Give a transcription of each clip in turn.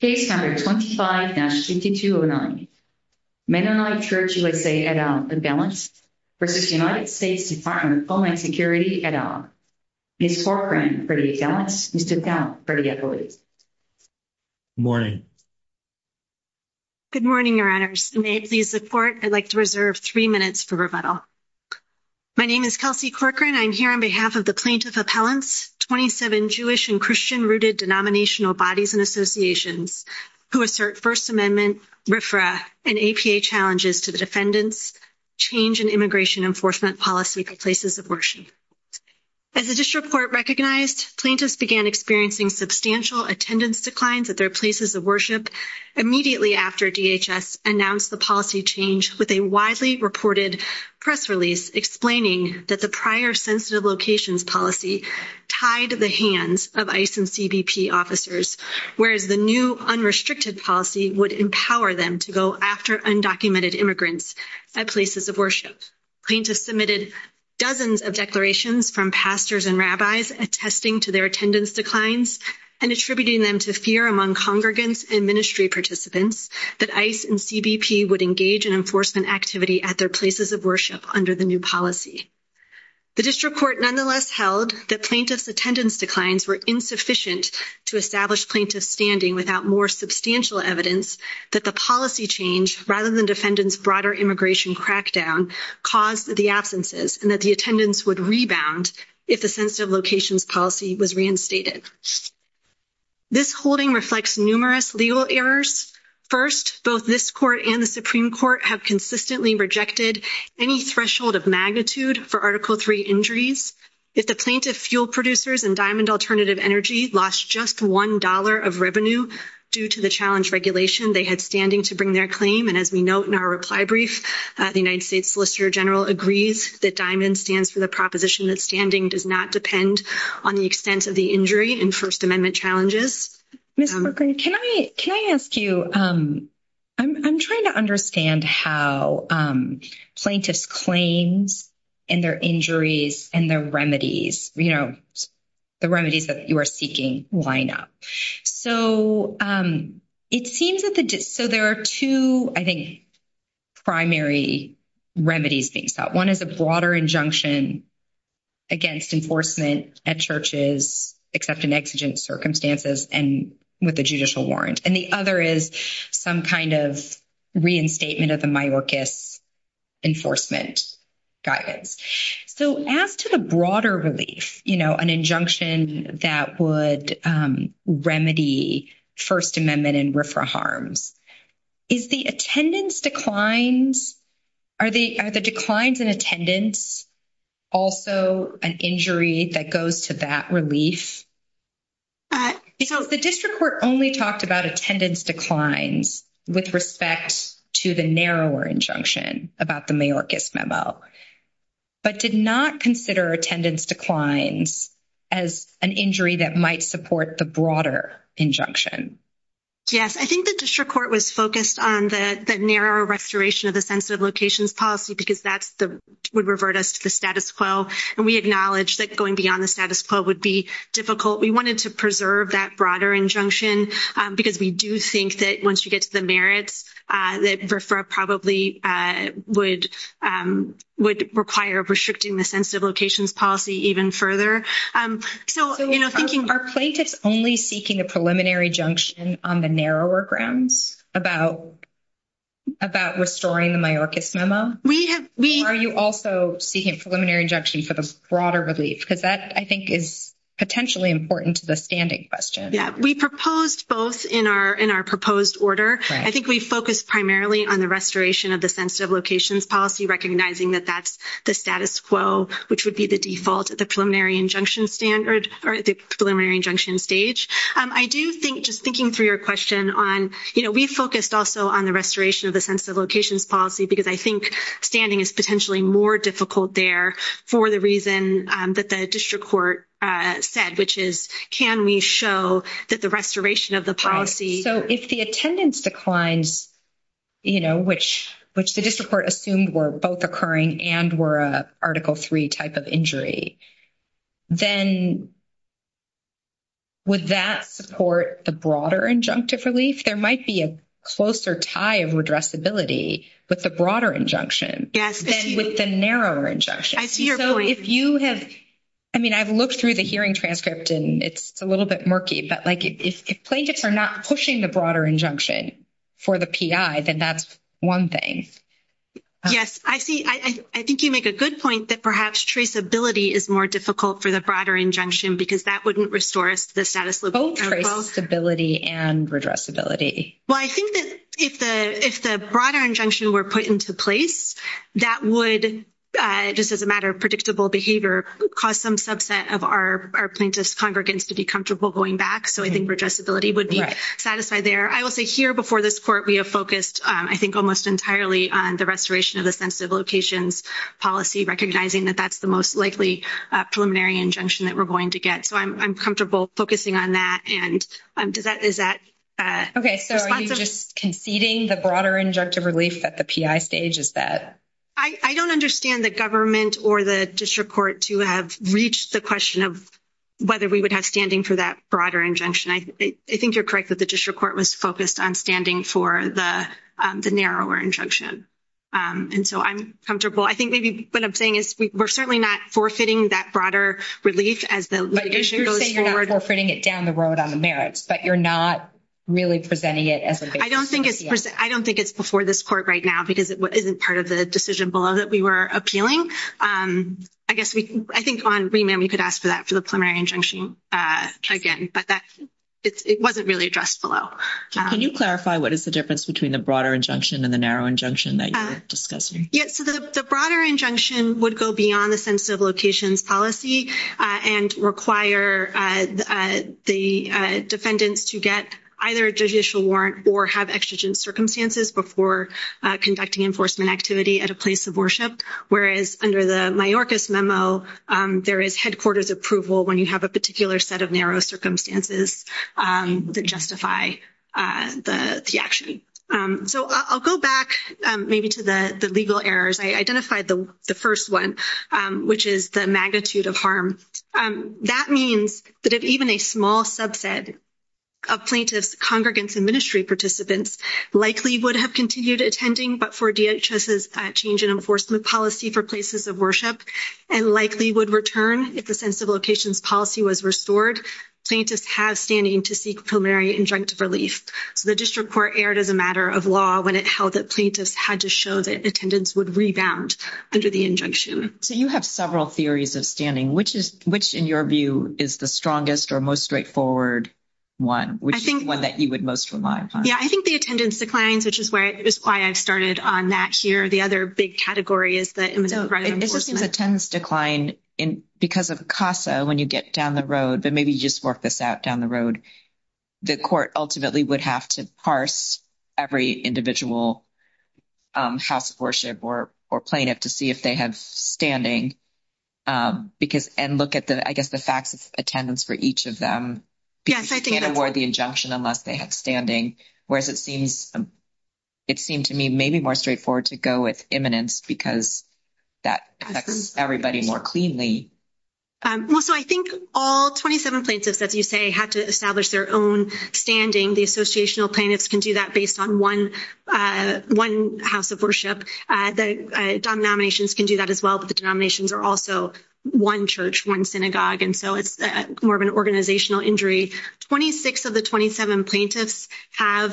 Case number 25-5209. Mennonite Church USA et al. impellants v. United States Department of Homeland Security et al. Ms. Corcoran for the appellants, Mr. Tao for the appellants. Good morning. Good morning, your honors. May it please the court, I'd like to reserve 3 minutes for rebuttal. My name is Kelsey Corcoran. I'm here on behalf of the plaintiff appellants, 27 Jewish and Christian rooted denominational bodies and associations who assert First Amendment, RFRA, and APA challenges to the defendants' change in immigration enforcement policy places of worship. As the district court recognized, plaintiffs began experiencing substantial attendance declines at their places of worship immediately after DHS announced the policy change with a reported press release explaining that the prior sensitive locations policy tied the hands of ICE and CBP officers, whereas the new unrestricted policy would empower them to go after undocumented immigrants at places of worship. Plaintiffs submitted dozens of declarations from pastors and rabbis attesting to their attendance declines and attributing them to fear among congregants and ministry participants that ICE and CBP would engage in enforcement activity at their places of worship under the new policy. The district court nonetheless held that plaintiffs' attendance declines were insufficient to establish plaintiffs' standing without more substantial evidence that the policy change, rather than defendants' broader immigration crackdown, caused the absences and that the attendance would rebound if the sensitive locations policy was reinstated. This holding reflects numerous legal errors. First, both this and the Supreme Court have consistently rejected any threshold of magnitude for Article III injuries. If the plaintiff fuel producers and Diamond Alternative Energy lost just $1 of revenue due to the challenge regulation they had standing to bring their claim, and as we note in our reply brief, the United States Solicitor General agrees that Diamond stands for the proposition that standing does not depend on the extent of the injury in First Amendment challenges. Ms. Merkin, can I ask you, I'm trying to understand how plaintiffs' claims and their injuries and their remedies, you know, the remedies that you are seeking line up. So it seems that the so there are two, I think, primary remedies being sought. One is a broader injunction against enforcement at churches, except in exigent circumstances and with a judicial warrant. And the other is some kind of reinstatement of the Mayorkas enforcement guidance. So as to the broader relief, you know, an injunction that would remedy First Amendment and RFRA harms, is the attendance declines, are the declines in attendance also an injury that goes to that relief? Because the district court only talked about attendance declines with respect to the narrower injunction about the Mayorkas memo, but did not consider attendance declines as an injury that might support the broader injunction? Yes, I think the district court was focused on the narrow restoration of the sensitive locations policy because that's the would revert us to the status quo. And we acknowledge that going beyond the status quo would be difficult. We wanted to preserve that broader injunction because we do think that once you get to the merits, that RFRA probably would require restricting the sensitive locations policy even further. So, you know, thinking... Are plaintiffs only seeking a preliminary injunction on the narrower grounds about restoring the Mayorkas memo? Or are you also seeking a preliminary injunction for the broader relief? Because that, I think, is potentially important to the standing question. Yeah, we proposed both in our proposed order. I think we focused primarily on the restoration of the sensitive locations policy, recognizing that that's the status quo, which would be the default at the preliminary injunction standard or the preliminary injunction stage. I do think, just thinking through your question on, you know, we focused also on the restoration of the sensitive locations policy because I think standing is potentially more difficult there for the reason that the district court said, which is, can we show that the restoration of the policy... So, if the attendance declines, you know, which the district court assumed were both occurring and were a Article III type of injury, then would that support the broader injunctive relief? There might be a closer tie of redressability with the broader injunction than with the narrower injunction. I see your point. So, if you have... I mean, I've looked through the hearing transcript and it's a little bit quirky, but like if plaintiffs are not pushing the broader injunction for the PI, then that's one thing. Yes, I see. I think you make a good point that perhaps traceability is more difficult for the broader injunction because that wouldn't restore us to the status quo. Both traceability and redressability. Well, I think that if the broader injunction were put into place, that would, just as a matter of predictable behavior, cause some subset of our plaintiff's congregants to be comfortable going back. So, I think redressability would be satisfied there. I will say here before this court, we have focused, I think, almost entirely on the restoration of the sensitive locations policy, recognizing that that's the most likely preliminary injunction that we're going to get. So, I'm comfortable focusing on that. And is that... Okay. So, are you just conceding the broader injunctive relief at the PI stage? Is that... I don't understand the government or the district court to have reached the question of whether we would have standing for that broader injunction. I think you're correct that the district court was focused on standing for the narrower injunction. And so, I'm comfortable. I think maybe what I'm saying is we're certainly not forfeiting that broader relief as the litigation goes forward. But you're saying you're not forfeiting it down the road on the merits, but you're not really presenting it as a... I don't think it's before this court right now because it isn't part of the decision below that we were appealing. I guess we... I think on remand, we could ask for that for the preliminary injunction again, but it wasn't really addressed below. Can you clarify what is the difference between the broader injunction and the narrow injunction that you're discussing? Yeah. So, the broader injunction would go beyond the sensitive locations policy and require the defendants to get either a judicial warrant or have exigent circumstances before conducting enforcement activity at a place of worship, whereas under the Mayorkas memo, there is headquarters approval when you have a particular set of narrow circumstances that justify the action. So, I'll go back maybe to the legal errors. I identified the first one, which is the magnitude of harm. That means that if even a small likely would have continued attending, but for DHS's change in enforcement policy for places of worship and likely would return if the sensitive locations policy was restored, plaintiffs have standing to seek preliminary injunctive relief. So, the district court erred as a matter of law when it held that plaintiffs had to show that attendance would rebound under the injunction. So, you have several theories of standing. Which in your view is the strongest or most straightforward one, which is one that you would most rely upon? Yeah, I think the attendance declines, which is why I've started on that here. The other big category is the imminent threat of enforcement. It just seems attendance decline because of CASA when you get down the road, but maybe you just work this out down the road. The court ultimately would have to parse every individual house of worship or plaintiff to see if they have standing and look at the, I guess, the facts of attendance for each of them because you can't award the injunction unless they have standing. Whereas, it seemed to me maybe more straightforward to go with imminence because that affects everybody more cleanly. Well, so I think all 27 plaintiffs, as you say, had to establish their own standing. The associational plaintiffs can do that based on one house of worship. The denominations can do an organizational injury. 26 of the 27 plaintiffs have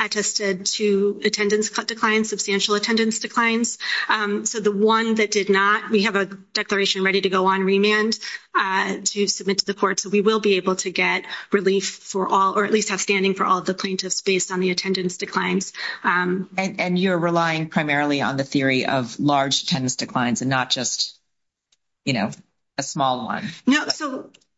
attested to attendance declines, substantial attendance declines. So, the one that did not, we have a declaration ready to go on remand to submit to the court. So, we will be able to get relief for all or at least have standing for all the plaintiffs based on the attendance declines. And you're relying primarily on theory of large attendance declines and not just, you know, a small one.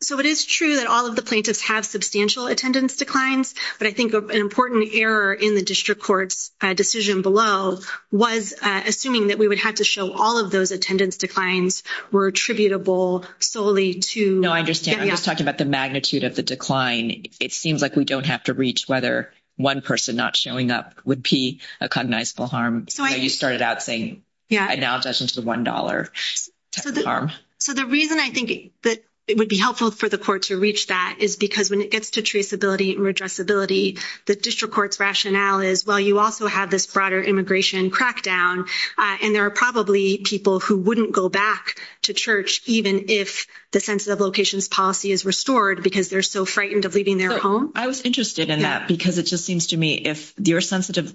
So, it is true that all of the plaintiffs have substantial attendance declines, but I think an important error in the district court's decision below was assuming that we would have to show all of those attendance declines were attributable solely to... No, I understand. I'm just talking about the magnitude of the decline. It seems like we don't have to reach whether one person not showing up would be a cognizable harm. So, you started out saying, I now judge into the $1 harm. So, the reason I think that it would be helpful for the court to reach that is because when it gets to traceability and redressability, the district court's rationale is, well, you also have this broader immigration crackdown, and there are probably people who wouldn't go back to church even if the sensitive locations policy is restored because they're so frightened of leaving their home. I was interested in that because it just seems to me if the sensitive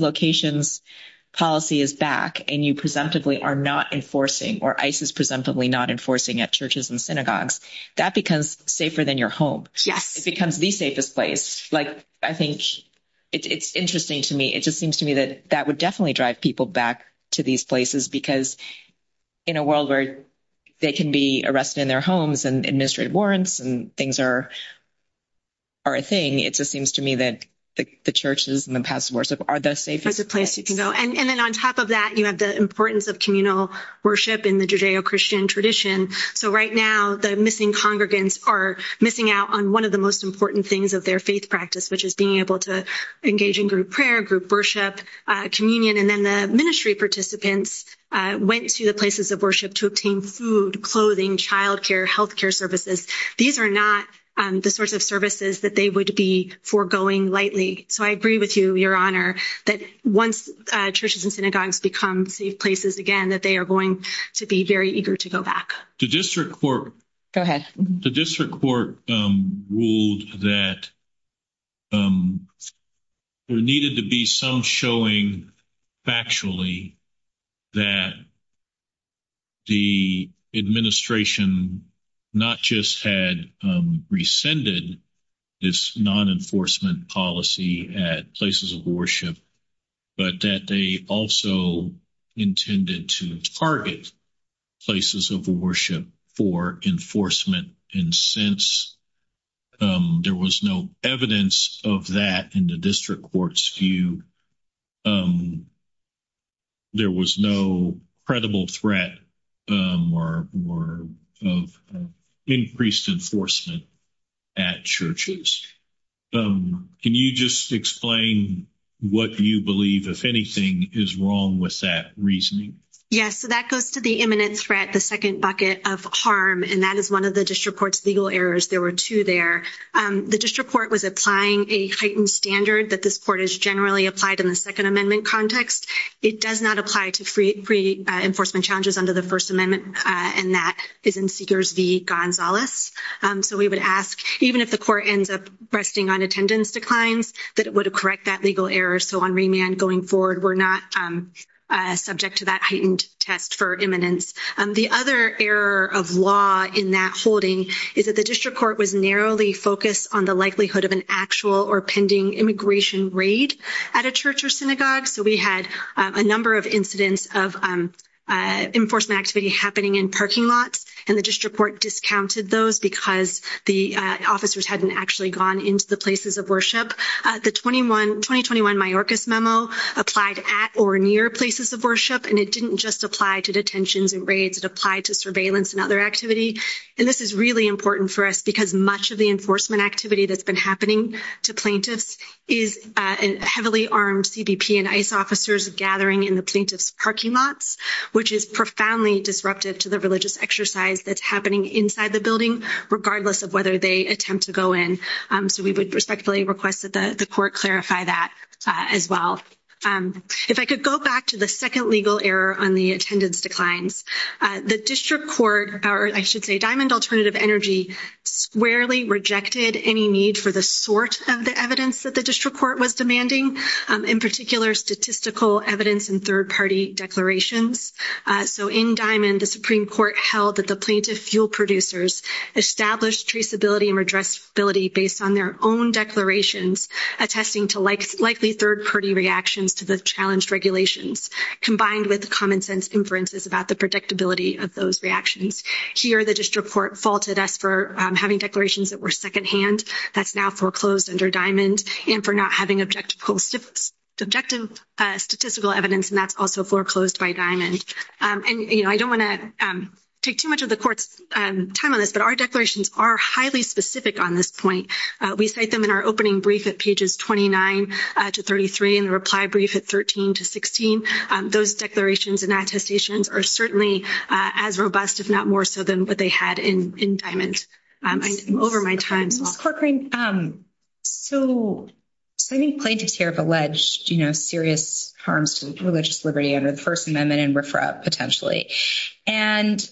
locations policy is back and you presumptively are not enforcing or ICE is presumptively not enforcing at churches and synagogues, that becomes safer than your home. It becomes the safest place. Like, I think it's interesting to me. It just seems to me that that would definitely drive people back to these places because in a world where they can be arrested in their homes and administrative warrants and things are a thing, it just seems to me that the churches and the paths of worship are the safest places. And then on top of that, you have the importance of communal worship in the Judeo-Christian tradition. So, right now, the missing congregants are missing out on one of the most important things of their faith practice, which is being able to engage in group prayer, group worship, communion, and then the ministry participants went to the These are not the sorts of services that they would be foregoing lightly. So, I agree with you, Your Honor, that once churches and synagogues become safe places again, that they are going to be very eager to go back. Go ahead. The district court ruled that there needed to be some showing, factually, that the administration not just had rescinded this non-enforcement policy at places of worship, but that they also intended to target places of worship for enforcement. And since there was no evidence of that in the district court's view, there was no credible threat of increased enforcement at churches. Can you just explain what you believe, if anything, is wrong with that reasoning? Yes. So, that goes to the imminent threat, the second bucket of harm, and that is one of the district court's legal errors. There were two there. The district court was applying a heightened standard that this court has generally applied in the Second Amendment context. It does not apply to free enforcement challenges under the First Amendment, and that is in Seekers v. Gonzalez. So, we would ask, even if the court ends up resting on attendance declines, that it would correct that legal error. So, on remand going forward, we're not subject to that heightened test for imminence. The other error of law in that holding is that the district court was narrowly focused on the likelihood of an actual or pending immigration raid at a church or synagogue. So, we had a number of incidents of enforcement activity happening in parking lots, and the district court discounted those because the officers hadn't actually gone into the places of worship. The 2021 Mayorkas Memo applied at or near places of worship, and it didn't just apply to detentions and raids. It applied to surveillance and other activity, and this is really important for us because much of the enforcement activity that's been happening to plaintiffs is heavily armed CBP and ICE officers gathering in the plaintiff's parking lots, which is profoundly disruptive to the religious exercise that's happening inside the building, regardless of they attempt to go in. So, we would respectfully request that the court clarify that as well. If I could go back to the second legal error on the attendance declines, the district court, or I should say Diamond Alternative Energy, squarely rejected any need for the sort of the evidence that the district court was demanding, in particular statistical evidence and third-party declarations. So, in Diamond, the Supreme Court held that the plaintiff fuel producers established traceability and redressability based on their own declarations, attesting to likely third-party reactions to the challenged regulations, combined with common-sense inferences about the predictability of those reactions. Here, the district court faulted us for having declarations that were secondhand. That's now foreclosed under Diamond, and for not having objective statistical evidence, and that's also foreclosed by Diamond. And, you know, I don't want to take too much of the court's time on this, but our declarations are highly specific on this point. We cite them in our opening brief at pages 29 to 33, and the reply brief at 13 to 16. Those declarations and attestations are certainly as robust, if not more so, than what they had in Diamond over my time. Ms. Corcoran, so I think plaintiffs here have alleged, you know, serious harms to religious liberty under the First Amendment and RFRA potentially. And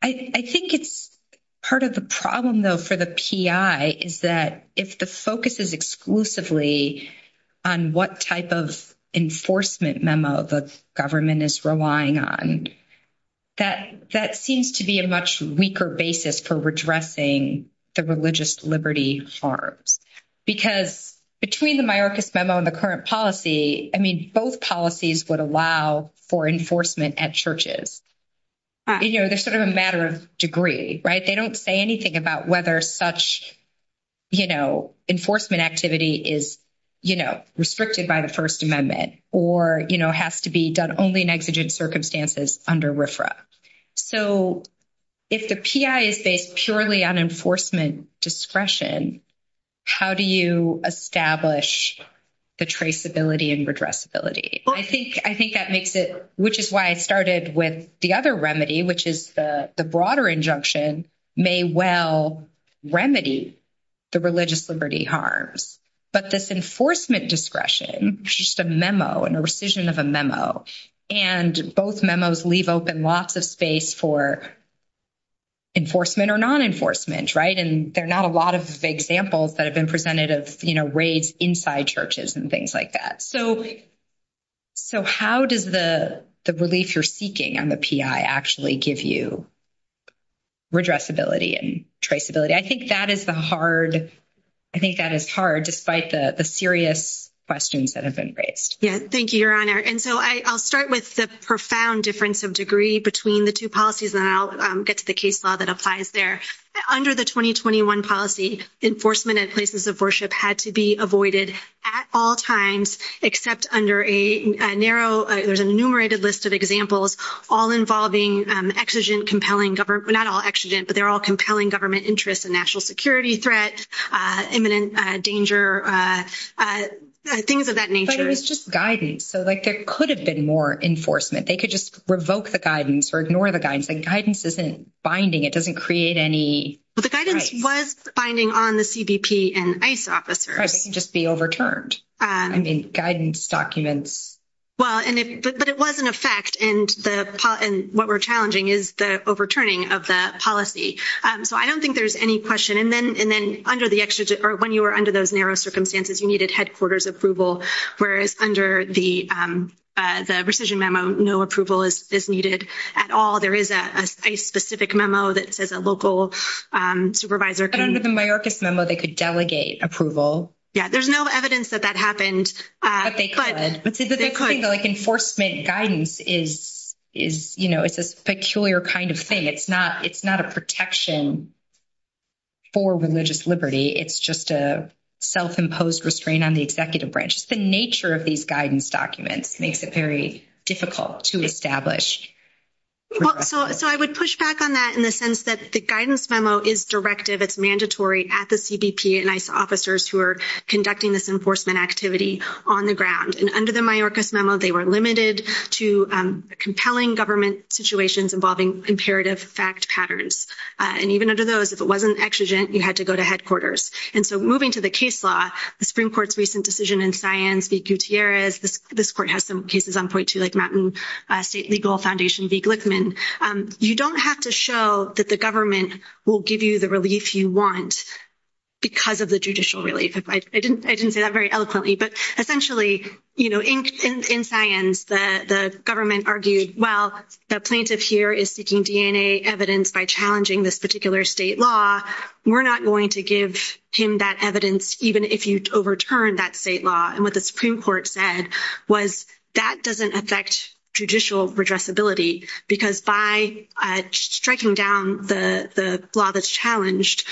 I think it's part of the problem, though, for the PI is that if the focus is exclusively on what type of enforcement memo the government is relying on, that seems to be a much weaker basis for redressing the religious liberty harms. Because between the Mayorkas memo and the RFRA, both policies would allow for enforcement at churches. You know, they're sort of a matter of degree, right? They don't say anything about whether such, you know, enforcement activity is, you know, restricted by the First Amendment or, you know, has to be done only in exigent circumstances under RFRA. So if the PI is based purely on enforcement discretion, how do you establish the traceability and redressability? I think that makes it, which is why I started with the other remedy, which is the broader injunction may well remedy the religious liberty harms. But this enforcement discretion, which is just a memo and a rescission of a memo, and both memos leave open lots of space for enforcement or non-enforcement, right? And there are not a lot of examples that have been presented of, you know, raids inside churches and things like that. So how does the relief you're seeking on the PI actually give you redressability and traceability? I think that is the hard, I think that is hard, despite the serious questions that have been raised. Yeah, thank you, Your Honor. And so I'll start with the profound difference of degree between the two policies, and then I'll get to the case law that applies there. Under the 2021 policy, enforcement at places of worship had to be avoided at all times, except under a narrow, there's an enumerated list of examples, all involving exigent, compelling government, not all exigent, but they're all compelling government interests and national security threat, imminent danger, things of that nature. But it was just guidance. So like there could have been more enforcement. They could just revoke the guidance or ignore the guidance. The guidance isn't binding. It doesn't create any... But the guidance was binding on the CBP and ICE officers. Right, they can just be overturned. I mean, guidance documents... Well, but it was an effect, and what we're challenging is the overturning of the policy. So I don't think there's any question. And then when you were under those narrow circumstances, you needed headquarters approval, whereas under the rescission memo, no approval is needed at all. There is a specific memo that says a local supervisor can... But under the Mayorkas memo, they could delegate approval. Yeah, there's no evidence that that happened, but... But they could. But see, the big thing, like enforcement guidance, it's this peculiar kind of thing. It's not a protection for religious liberty. It's just a self-imposed restraint on the executive branch. It's the nature of these guidance documents makes it very difficult to establish. So I would push back on that in the sense that the guidance memo is directive. It's mandatory at the CBP and ICE officers who are conducting this enforcement activity on the ground. And under the Mayorkas memo, they were limited to compelling government situations involving imperative fact patterns. And even under those, if it wasn't exigent, you had to go to headquarters. And so moving to the case law, the Supreme Court's recent decision in Sions v. Gutierrez, this court has some cases on point too, like Mountain State Legal Foundation v. Glickman. You don't have to show that the government will give you the relief you want because of the judicial relief. I didn't say that very eloquently, but essentially, in Sions, the government argued, well, the plaintiff here is seeking DNA evidence by challenging this particular state law. We're not going to give him that evidence, even if you overturn that state law. And what the Supreme Court said was that doesn't affect judicial redressability because by striking down the law that's challenged,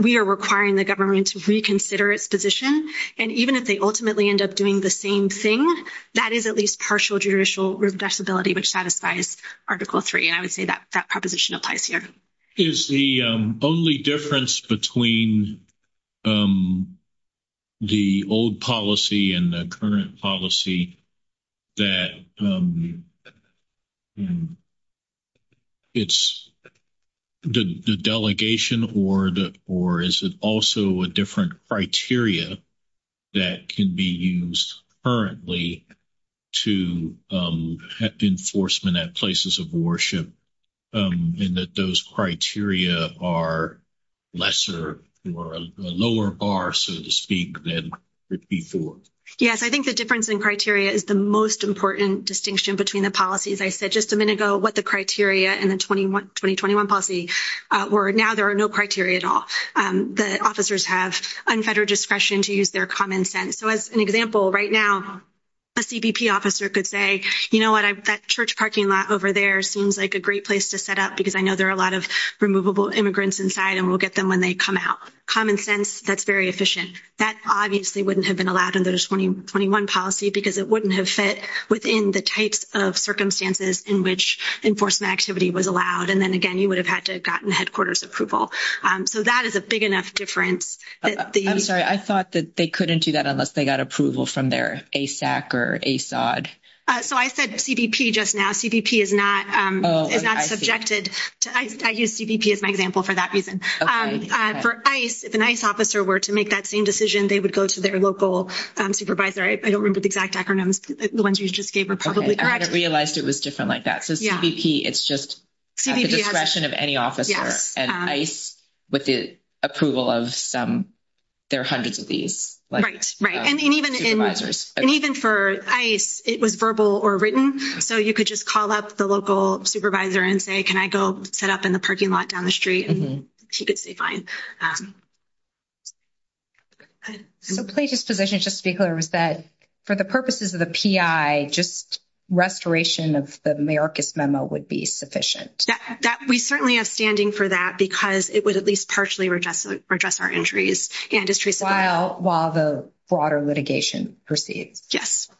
we are requiring the government to reconsider its position. And even if they ultimately end up doing the same thing, that is at least partial judicial redressability, which satisfies Article III. And I would say that that proposition applies here. Is the only difference between the old policy and the current policy that it's the delegation or is it also a different criteria that can be used currently to have enforcement at places of worship and that those criteria are lesser or lower bar, so to speak, than before? Yes, I think the difference in criteria is the most important distinction between the policies. I said just a minute ago what the criteria in the 2021 policy were. Now there are no criteria at all. The officers have unfettered discretion to use their common sense. So as an example, right now, a CBP officer could say, you know what, that church parking lot over there seems like a great place to set up because I know there are a lot of removable immigrants inside and we'll get them when they come out. Common sense, that's very efficient. That obviously wouldn't have been allowed under the 2021 policy because it wouldn't have fit within the types of circumstances in which enforcement activity was allowed. And then again, you would have had to have gotten headquarters approval. So that is a big enough difference. I'm sorry, I thought that they couldn't do that unless they got approval from their ASAC or ASOD. So I said CBP just now. CBP is not subjected. I use CBP as my example for that reason. For ICE, if an ICE officer were to make that same decision, they would go to their local supervisor. I don't remember the exact acronyms. The ones you just gave were probably correct. I realized it was different like that. So CBP, it's just at the discretion of any officer and ICE with the approval of some, there are hundreds of these supervisors. Right. And even for ICE, it was verbal or written. So you could just call up the local supervisor and say, can I go set up in the parking lot down the street? And he could say fine. So Plagia's position just to be clear was that for the purposes of the PI, just restoration of the Mayorkas memo would be sufficient. We certainly have standing for that because it would at least partially redress our injuries. While the broader litigation proceeds. Yes.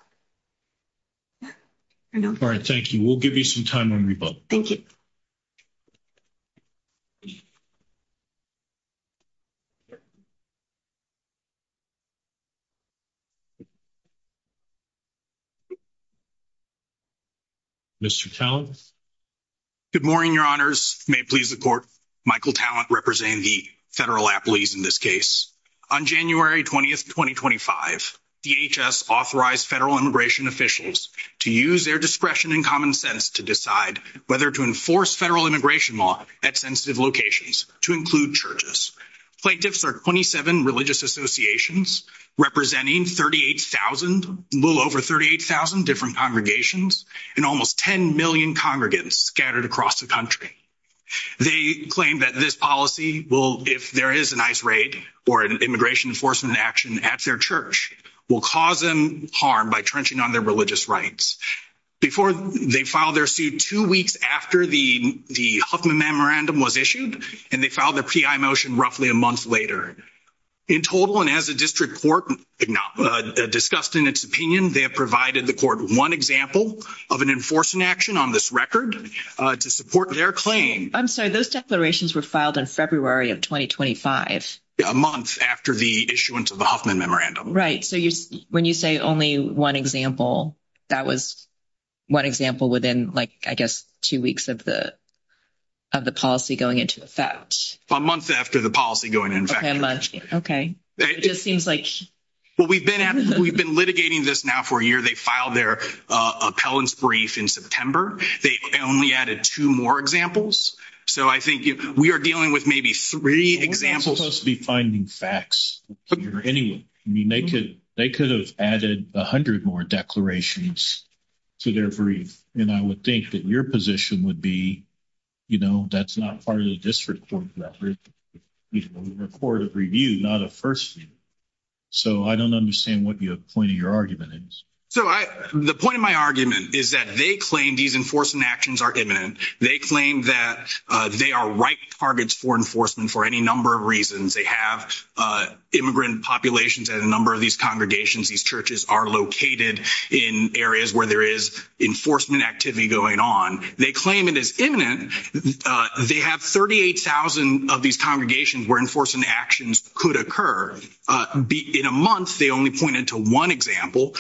All right. Thank you. We'll give you some time on rebuttal. Thank you. Mr. Tallent. Good morning, your honors. May it please the court. Michael Tallent representing the federal appellees in this case. On January 20th, 2025, DHS authorized federal immigration officials to use their discretion and common sense to decide whether to enforce federal immigration law at sensitive locations to include churches. Plaintiffs are 27 religious associations representing 38,000, a little over 38,000 different congregations and almost 10 million congregants scattered across the country. They claim that this policy will, if there is an ICE raid or an immigration enforcement action at their church, will cause them harm by trenching on their religious rights. Before they filed their suit two weeks after the Huffman memorandum was and they filed their PI motion roughly a month later. In total, and as a district court discussed in its opinion, they have provided the court one example of an enforcement action on this record to support their claim. I'm sorry, those declarations were filed in February of 2025. A month after the issuance of the Huffman memorandum. Right. So when you say only one example, that was one example within, I guess, two weeks of the policy going into effect. A month after the policy going into effect. Okay. It just seems like... Well, we've been litigating this now for a year. They filed their appellant's brief in September. They only added two more examples. So I think we are dealing with maybe three examples. We're supposed to be finding facts here anyway. They could have added a hundred more declarations to their brief. And I would think that your position would be, you know, that's not part of the district court record of review, not a first view. So I don't understand what the point of your argument is. So the point of my argument is that they claim these enforcement actions are imminent. They claim that they are right targets for enforcement for any number of reasons. They have immigrant populations at a number of these congregations. These churches are located in areas where there is enforcement activity going on. They claim it is imminent. They have 38,000 of these congregations where enforcement actions could occur. In a month, they only pointed to one example.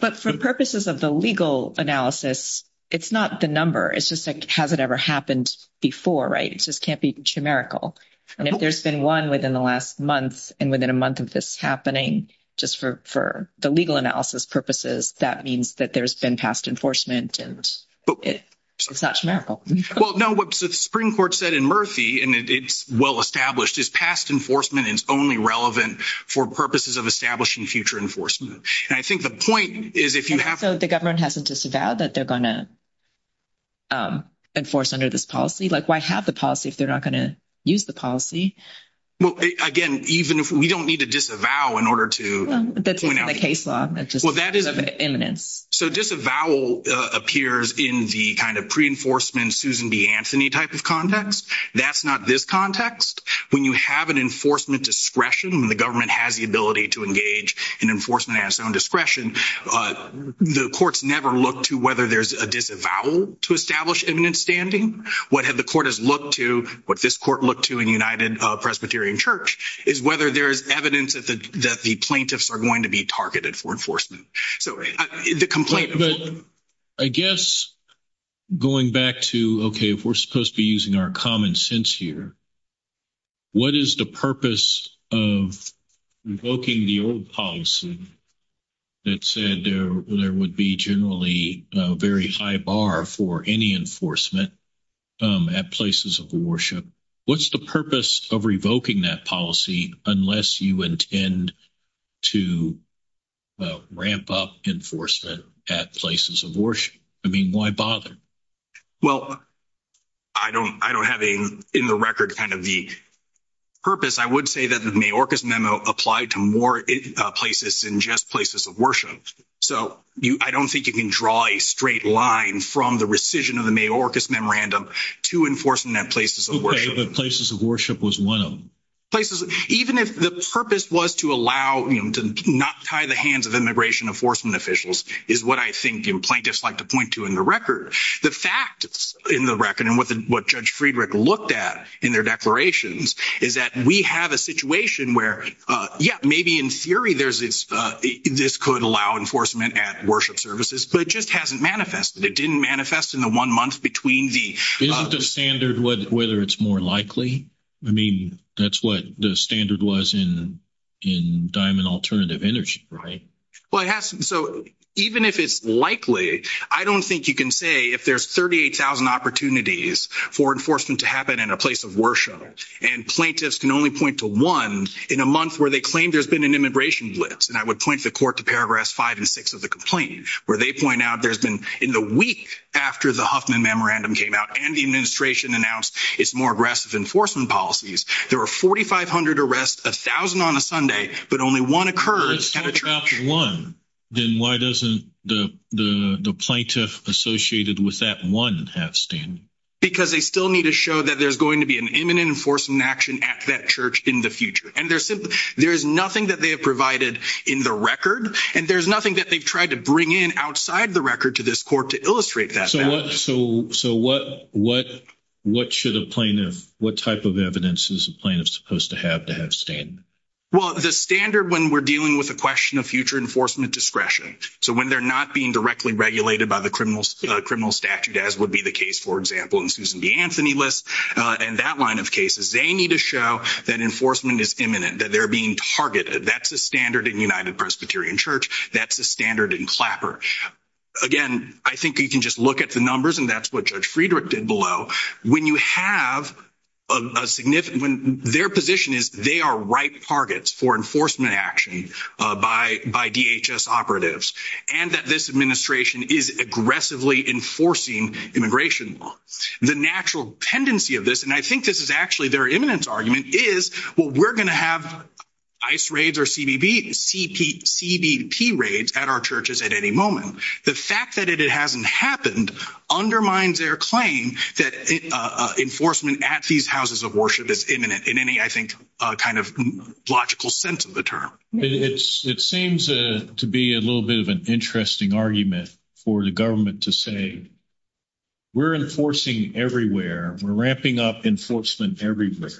But for purposes of the legal analysis, it's not the number. It's just like, has it ever happened before, right? It just can't be chimerical. And if there's been one within the last month and within a month of this happening, just for the legal analysis purposes, that means that there's been past enforcement and it's not chimerical. Well, no. What the Supreme Court said in Murphy, and it's well-established, is past enforcement is only relevant for purposes of establishing future enforcement. And I think the point is, if you have... So the government hasn't disavowed that they're going to enforce under this policy? Like, why have the policy if they're not going to use the policy? Well, again, even if we don't need to disavow in order to... Well, that's in the case law. That's just... Well, that is... ...imminence. So disavowal appears in the kind of pre-enforcement Susan B. Anthony type of context. That's not this context. When you have an enforcement discretion, the government has the ability to engage in enforcement at its own discretion. The courts never look to whether there's a disavowal to establish imminent standing. What the court has looked to, what this court looked to in United Presbyterian Church, is whether there is evidence that the plaintiffs are going to be targeted for enforcement. So the complaint... But I guess going back to, okay, if we're supposed to be using our common sense here, what is the purpose of revoking the old policy that said there would be generally a very high bar for any enforcement at places of worship? What's the purpose of revoking that policy unless you intend to ramp up enforcement at places of worship? I mean, why bother? Well, I don't have in the record kind of the purpose. I would say that the Mayorkas Memo applied to more places than just places of worship. So I don't think you can draw a straight line from the rescission of the Mayorkas Memorandum to enforcement at places of worship. Okay, but places of worship was one of them. Places... Even if the purpose was to allow, you know, to not tie the hands of immigration enforcement officials is what I think plaintiffs like to point to in the record. The fact in the record and what Judge Friedrich looked at in their declarations is that we have a situation where, yeah, maybe in theory this could allow enforcement at worship services, but it just hasn't manifested. It didn't manifest in the one month between the... Isn't the standard whether it's more likely? I mean, that's what the standard was in Diamond Alternative Energy, right? Well, it hasn't. So even if it's likely, I don't think you can say if there's 38,000 opportunities for enforcement to happen in a place of worship, and plaintiffs can only point to one in a month where they claim there's been an immigration blitz. And I would point the court to paragraphs five and six of the complaint, where they point out there's been in the week after the Huffman Memorandum came out and the administration announced its more aggressive enforcement policies, there were 4,500 arrests, 1,000 on a Sunday, but only one occurred. One. Then why doesn't the plaintiff associated with that one have standing? Because they still need to show that there's going to be an imminent enforcement action at that church in the future. And there's nothing that they have provided in the record, and there's nothing that they've tried to bring in outside the record to this court to illustrate that. So what should a plaintiff, what type of evidence is a plaintiff supposed to have to have standing? Well, the standard when we're dealing with a question of future enforcement discretion. So when they're not being directly regulated by the criminal statute, as would be the case, for example, in Susan B. Anthony List and that line of cases, they need to show that enforcement is imminent, that they're being targeted. That's a standard in United Presbyterian Church. That's a standard in Clapper. Again, I think you can just look at the numbers, and that's what Judge Friedrich did below. When you have a significant, when their position is they are right targets for enforcement action by DHS operatives, and that this administration is aggressively enforcing immigration law. The natural tendency of this, and I think this is actually their imminent argument, is, well, we're going to have ICE raids or CBP raids at our churches at any moment. The fact that it hasn't happened undermines their claim that enforcement at these houses of worship is imminent in any, I think, kind of logical sense of the term. It seems to be a little bit of an interesting argument for the government to say, we're enforcing everywhere. We're ramping up enforcement everywhere.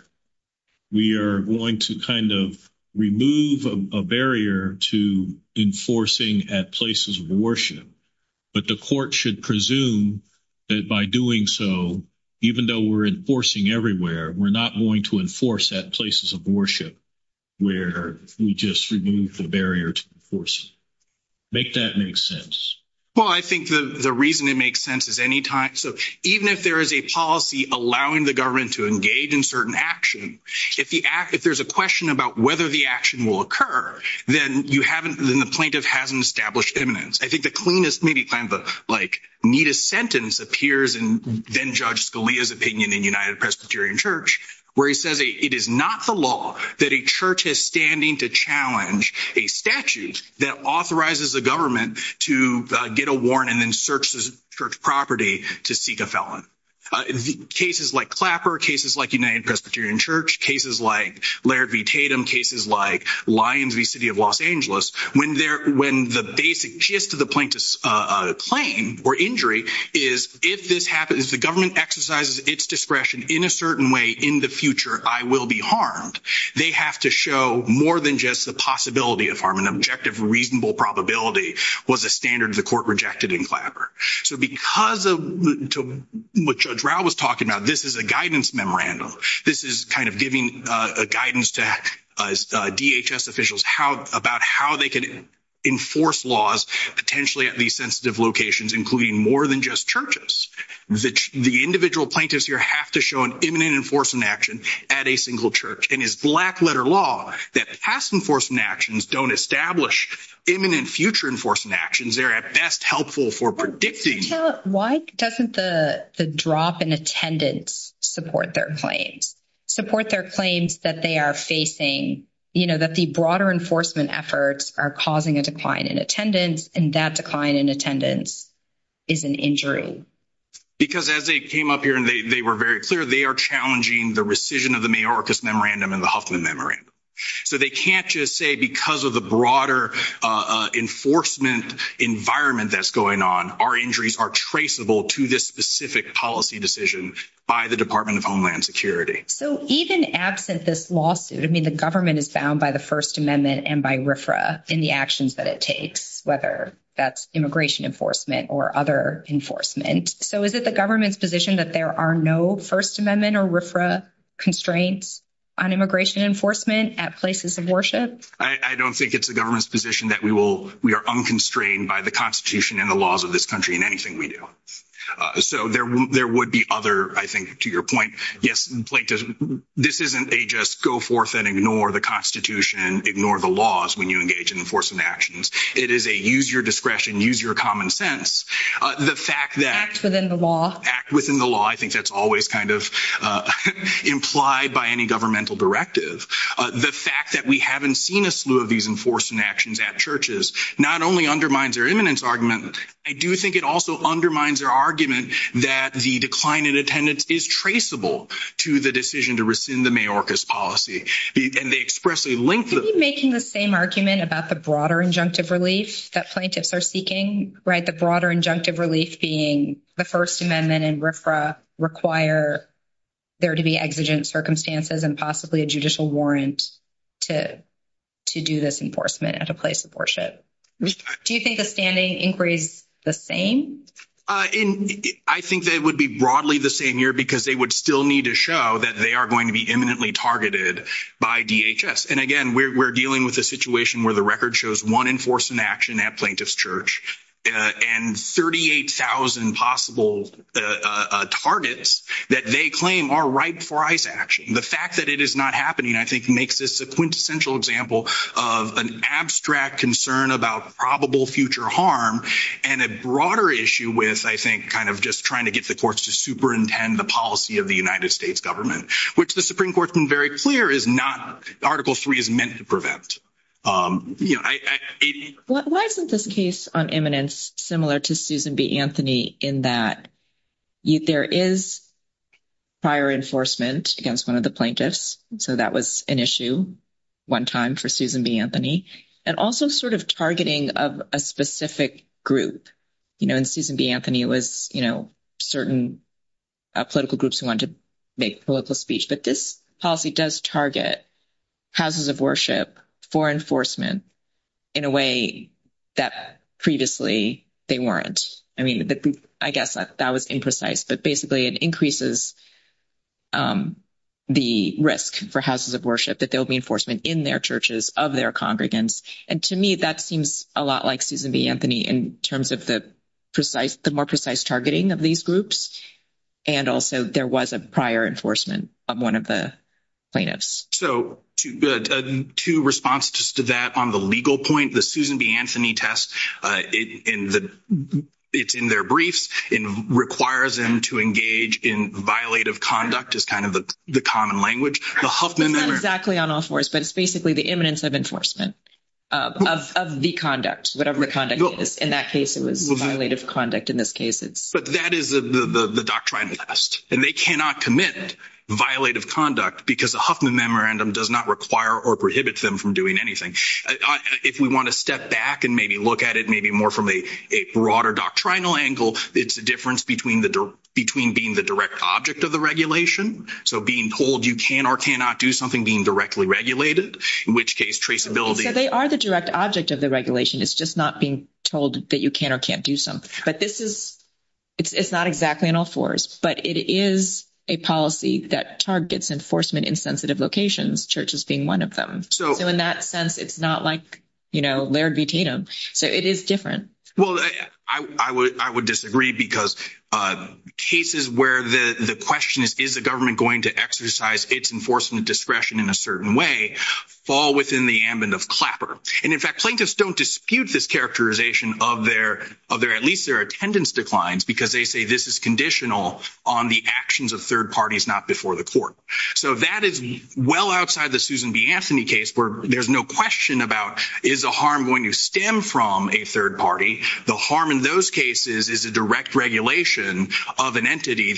We are going to kind of remove a barrier to enforcing at places of worship. But the court should presume that by doing so, even though we're enforcing everywhere, we're not going to enforce at places of worship, where we just remove the barrier to enforcing. Make that make sense. Well, I think the reason it makes sense is anytime, so even if there is a policy allowing the government to engage in certain action, if there's a question about whether the action will occur, then you haven't, then the plaintiff hasn't established imminence. I think the cleanest, like neatest sentence appears in then Judge Scalia's opinion in United Presbyterian Church, where he says it is not the law that a church is standing to challenge a statute that authorizes the government to get a warrant and then search the church property to seek a felon. Cases like Clapper, cases like United Presbyterian Church, cases like Laird v. Tatum, cases like Lyons v. City of Los Angeles, when the basic gist of the plaintiff's claim or injury is, if this happens, if the government exercises its discretion in a certain way in the future, I will be harmed. They have to show more than just the possibility of harm. An objective, reasonable probability was a standard the court rejected in Clapper. So because of what Judge Rao was talking about, this is a guidance memorandum. This is kind of guidance to DHS officials about how they can enforce laws potentially at these sensitive locations, including more than just churches. The individual plaintiffs here have to show an imminent enforcement action at a single church. And it's black-letter law that past enforcement actions don't establish imminent future enforcement actions. They're at best helpful for predicting. Why doesn't the drop in attendance support their claims, support their claims that they are facing, you know, that the broader enforcement efforts are causing a decline in attendance, and that decline in attendance is an injury? Because as they came up here and they were very clear, they are challenging the rescission of the Mayorkas Memorandum and the Huffman Memorandum. So they can't just say because of the broader enforcement environment that's going on, our injuries are traceable to this specific policy decision by the Department of Homeland Security. So even absent this lawsuit, I mean, the government is bound by the First Amendment and by RFRA in the actions that it takes, whether that's immigration enforcement or other enforcement. So is it the government's position that there are no First Amendment or RFRA constraints on immigration enforcement at places of worship? I don't think it's the government's position that we will, we are unconstrained by the Constitution and the laws of this country in anything we do. So there would be other, I think, to your point, yes, this isn't a just go forth and ignore the Constitution, ignore the laws when you engage in enforcement actions. It is a use your discretion, use your common sense. The fact that... Act within the law. Act within the law. I think that's always kind of implied by any governmental directive. The fact that we haven't seen a slew of these enforcement actions at churches not only undermines their imminence argument. I do think it also undermines their argument that the decline in attendance is traceable to the decision to rescind the Mayorkas policy. And they expressly link them... Could you be making the same argument about the broader injunctive relief that plaintiffs are seeking, right? The broader injunctive relief being the First Amendment and RFRA require there to be exigent circumstances and possibly a judicial warrant to do this enforcement at a place of worship. Do you think the standing inquiry is the same? And I think that it would be broadly the same here because they would still need to show that they are going to be imminently targeted by DHS. And again, we're dealing with a situation where the record shows one enforcement action at Plaintiff's Church and 38,000 possible targets that they claim are ripe for ICE action. The fact that it is not happening, I think, makes this a quintessential example of an abstract concern about probable future harm and a broader issue with, I think, kind of just trying to get the courts to superintend the policy of the United States government, which the Supreme Court's been very clear is not... Article III is meant to prevent. Why isn't this case on imminence similar to Susan B. Anthony in that there is prior enforcement against one of the plaintiffs? So that was an issue one time for Susan B. Anthony, and also sort of targeting of a specific group. In Susan B. Anthony, it was certain political groups who wanted to make political speech, but this policy does target houses of worship for enforcement in a way that previously they weren't. I mean, I guess that was imprecise, but basically it increases the risk for houses of worship that there'll be enforcement in their churches of their congregants. And to me, that seems a lot like Susan B. Anthony in terms of the more precise targeting of these groups. And also there was a prior enforcement of one of the plaintiffs. So two responses to that on the legal point, the Susan B. Anthony test, in that it's in their briefs and requires them to engage in violative conduct as kind of the common language. The Huffman Memorandum... It's not exactly on all fours, but it's basically the imminence of enforcement of the conduct, whatever the conduct is. In that case, it was violative conduct. In this case, it's... But that is the doctrine test, and they cannot commit violative conduct because the Huffman Memorandum does not require or prohibit them from doing anything. If we want to step back and maybe look at it, maybe more from a broader doctrinal angle, it's a difference between being the direct object of the regulation. So being told you can or cannot do something being directly regulated, in which case traceability... So they are the direct object of the regulation. It's just not being told that you can or can't do something. But this is... It's not exactly on all fours, but it is a policy that targets enforcement in sensitive locations, churches being one of them. So in that sense, it's not like Laird v. Tatum. So it is different. Well, I would disagree because cases where the question is, is the government going to exercise its enforcement discretion in a certain way, fall within the ambit of clapper. And in fact, plaintiffs don't dispute this characterization of their... At least their attendance declines, because they say this is conditional on the actions of third parties, not before the court. So that is well outside the Susan B. Anthony case, where there's no question about, is a harm going to stem from a third party? The harm in those cases is a direct regulation of an entity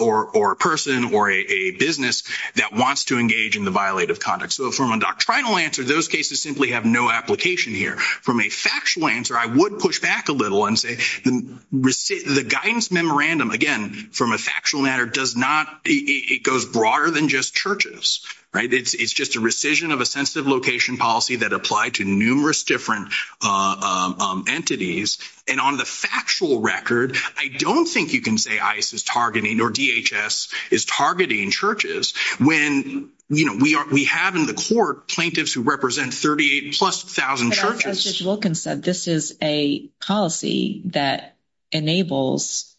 or a person or a business that wants to engage in the violative conduct. So from a doctrinal answer, those cases simply have no application here. From a factual answer, I would push back a little and say the guidance memorandum, again, from a factual matter does not... It goes broader than just churches, right? It's just a rescission of a sensitive location policy that applied to numerous different entities. And on the factual record, I don't think you can say ICE is targeting or DHS is targeting churches when, you know, we have in the court plaintiffs who represent 38 plus thousand churches. Judge Wilkins said this is a policy that enables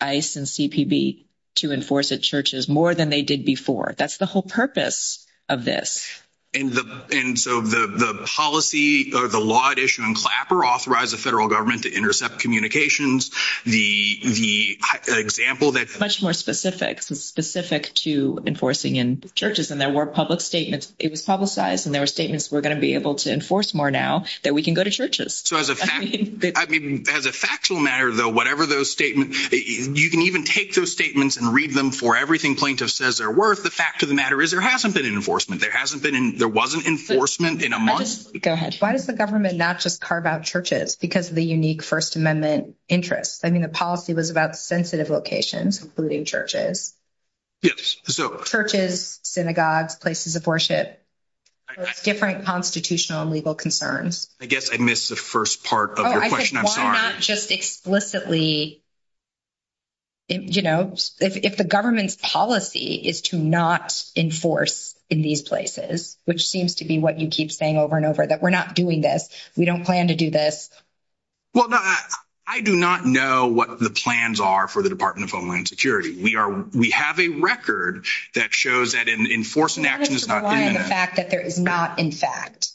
ICE and CPB to enforce at churches more than they did before. That's the whole purpose of this. And so the policy or the law at issue in Clapper authorized the federal government to intercept communications. The example that... Much more specific to enforcing in churches. And there were public statements. It was publicized and there were statements we're going to be able to enforce more now that we can go to churches. So as a fact... I mean, as a factual matter, though, whatever those statements... You can even take those statements and read them for everything plaintiff says they're worth. The fact of the matter is there hasn't been an enforcement. There hasn't been... There wasn't enforcement in a month. Go ahead. Why does the government not just carve out churches? Because of the unique First Amendment interests. I mean, the policy was about sensitive locations, including churches. Yes. So... Churches, synagogues, places of worship, different constitutional and legal concerns. I guess I missed the first part of your question. I'm sorry. Why not just explicitly... You know, if the government's policy is to not enforce in these places, which seems to be what you keep saying over and over, that we're not doing this. We don't plan to do this. Well, I do not know what the plans are for the Department of Homeland Security. We have a record that shows that an enforcement action has not been... That is to rely on the fact that there is not, in fact,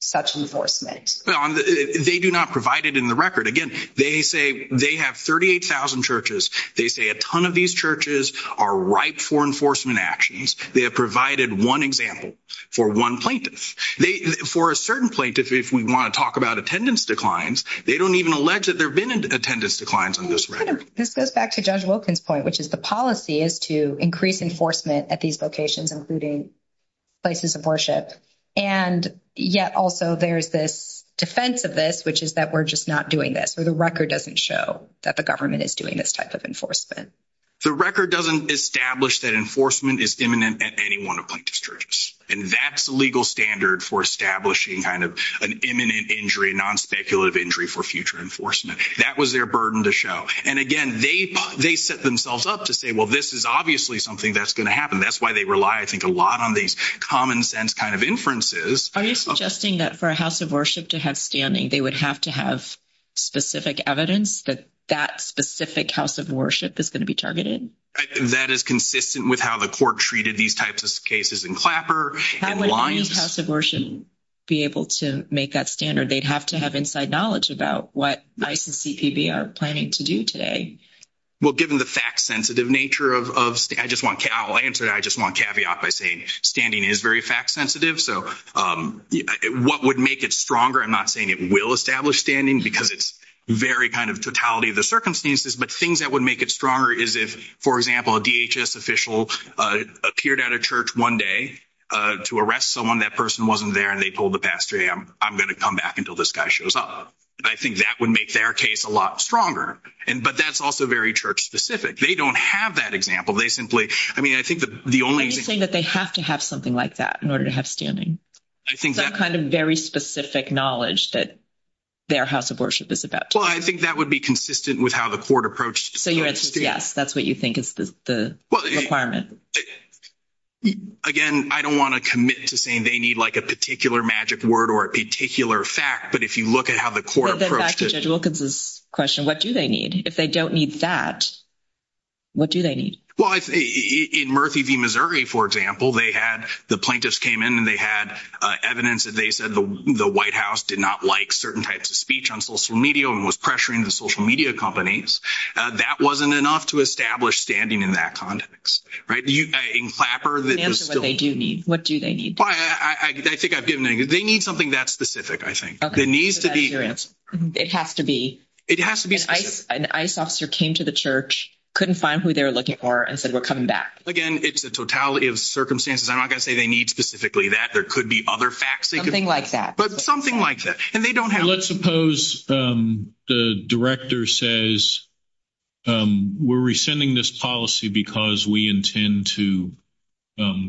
such enforcement. They do not provide it in the record. Again, they say they have 38,000 churches. They say a ton of these churches are ripe for enforcement actions. They have provided one example for one plaintiff. For a certain plaintiff, if we want to talk about attendance declines, they don't even allege that there have been attendance declines on this record. This goes back to Judge Wilkins' point, which is the policy is to increase enforcement at these locations, including places of worship. And yet also there's this defense of this, which is that we're just not doing this, or the record doesn't show that the government is doing this type of enforcement. The record doesn't establish that enforcement is imminent at any one of plaintiff's churches. And that's the legal standard for establishing kind of an imminent injury, non-speculative injury for future enforcement. That was their burden to show. And again, they set themselves up to say, well, this is obviously something that's going to happen. That's why they rely, I think, a lot on these common sense kind of inferences. Are you suggesting that for a house of worship to have standing, they would have to have specific evidence that that specific house of worship is going to be targeted? That is consistent with how the court treated these types of cases in Clapper and Lyons. Would a house of worship be able to make that standard? They'd have to have inside knowledge about what ICE and CPB are planning to do today. Well, given the fact-sensitive nature of, I'll answer that, I just want caveat by saying standing is very fact-sensitive. So what would make it stronger? I'm not saying it will establish standing because it's very kind of totality of the circumstances, but things that would make it stronger is if, for example, a DHS official appeared at a church one day to arrest someone and that person wasn't there and they told the pastor, I'm going to come back until this guy shows up. I think that would make their case a lot stronger. But that's also very church-specific. They don't have that example. They simply, I mean, I think the only- Are you saying that they have to have something like that in order to have standing? I think that- Some kind of very specific knowledge that their house of worship is about to- Well, I think that would be consistent with how the court approached- So your answer is yes, that's what you think is the requirement. Again, I don't want to commit to saying they need like a particular magic word or a particular fact, but if you look at how the court approached it- Then back to Judge Wilkins' question, what do they need? If they don't need that, what do they need? Well, in Murphy v. Missouri, for example, they had, the plaintiffs came in and they had evidence that they said the White House did not like certain types of speech on social media and was pressuring the social media companies. That wasn't enough to establish standing in that context, right? In Clapper, that was still- Answer what they do need. What do they need? Well, I think I've given it. They need something that's specific, I think. Okay, so that's your answer. It has to be. It has to be specific. An ICE officer came to the church, couldn't find who they were looking for, and said, we're coming back. Again, it's a totality of circumstances. I'm not going to say they need specifically that. There could be other facts they could- Something like that. But something like that. And they don't have- Let's suppose the director says, we're rescinding this policy because we intend to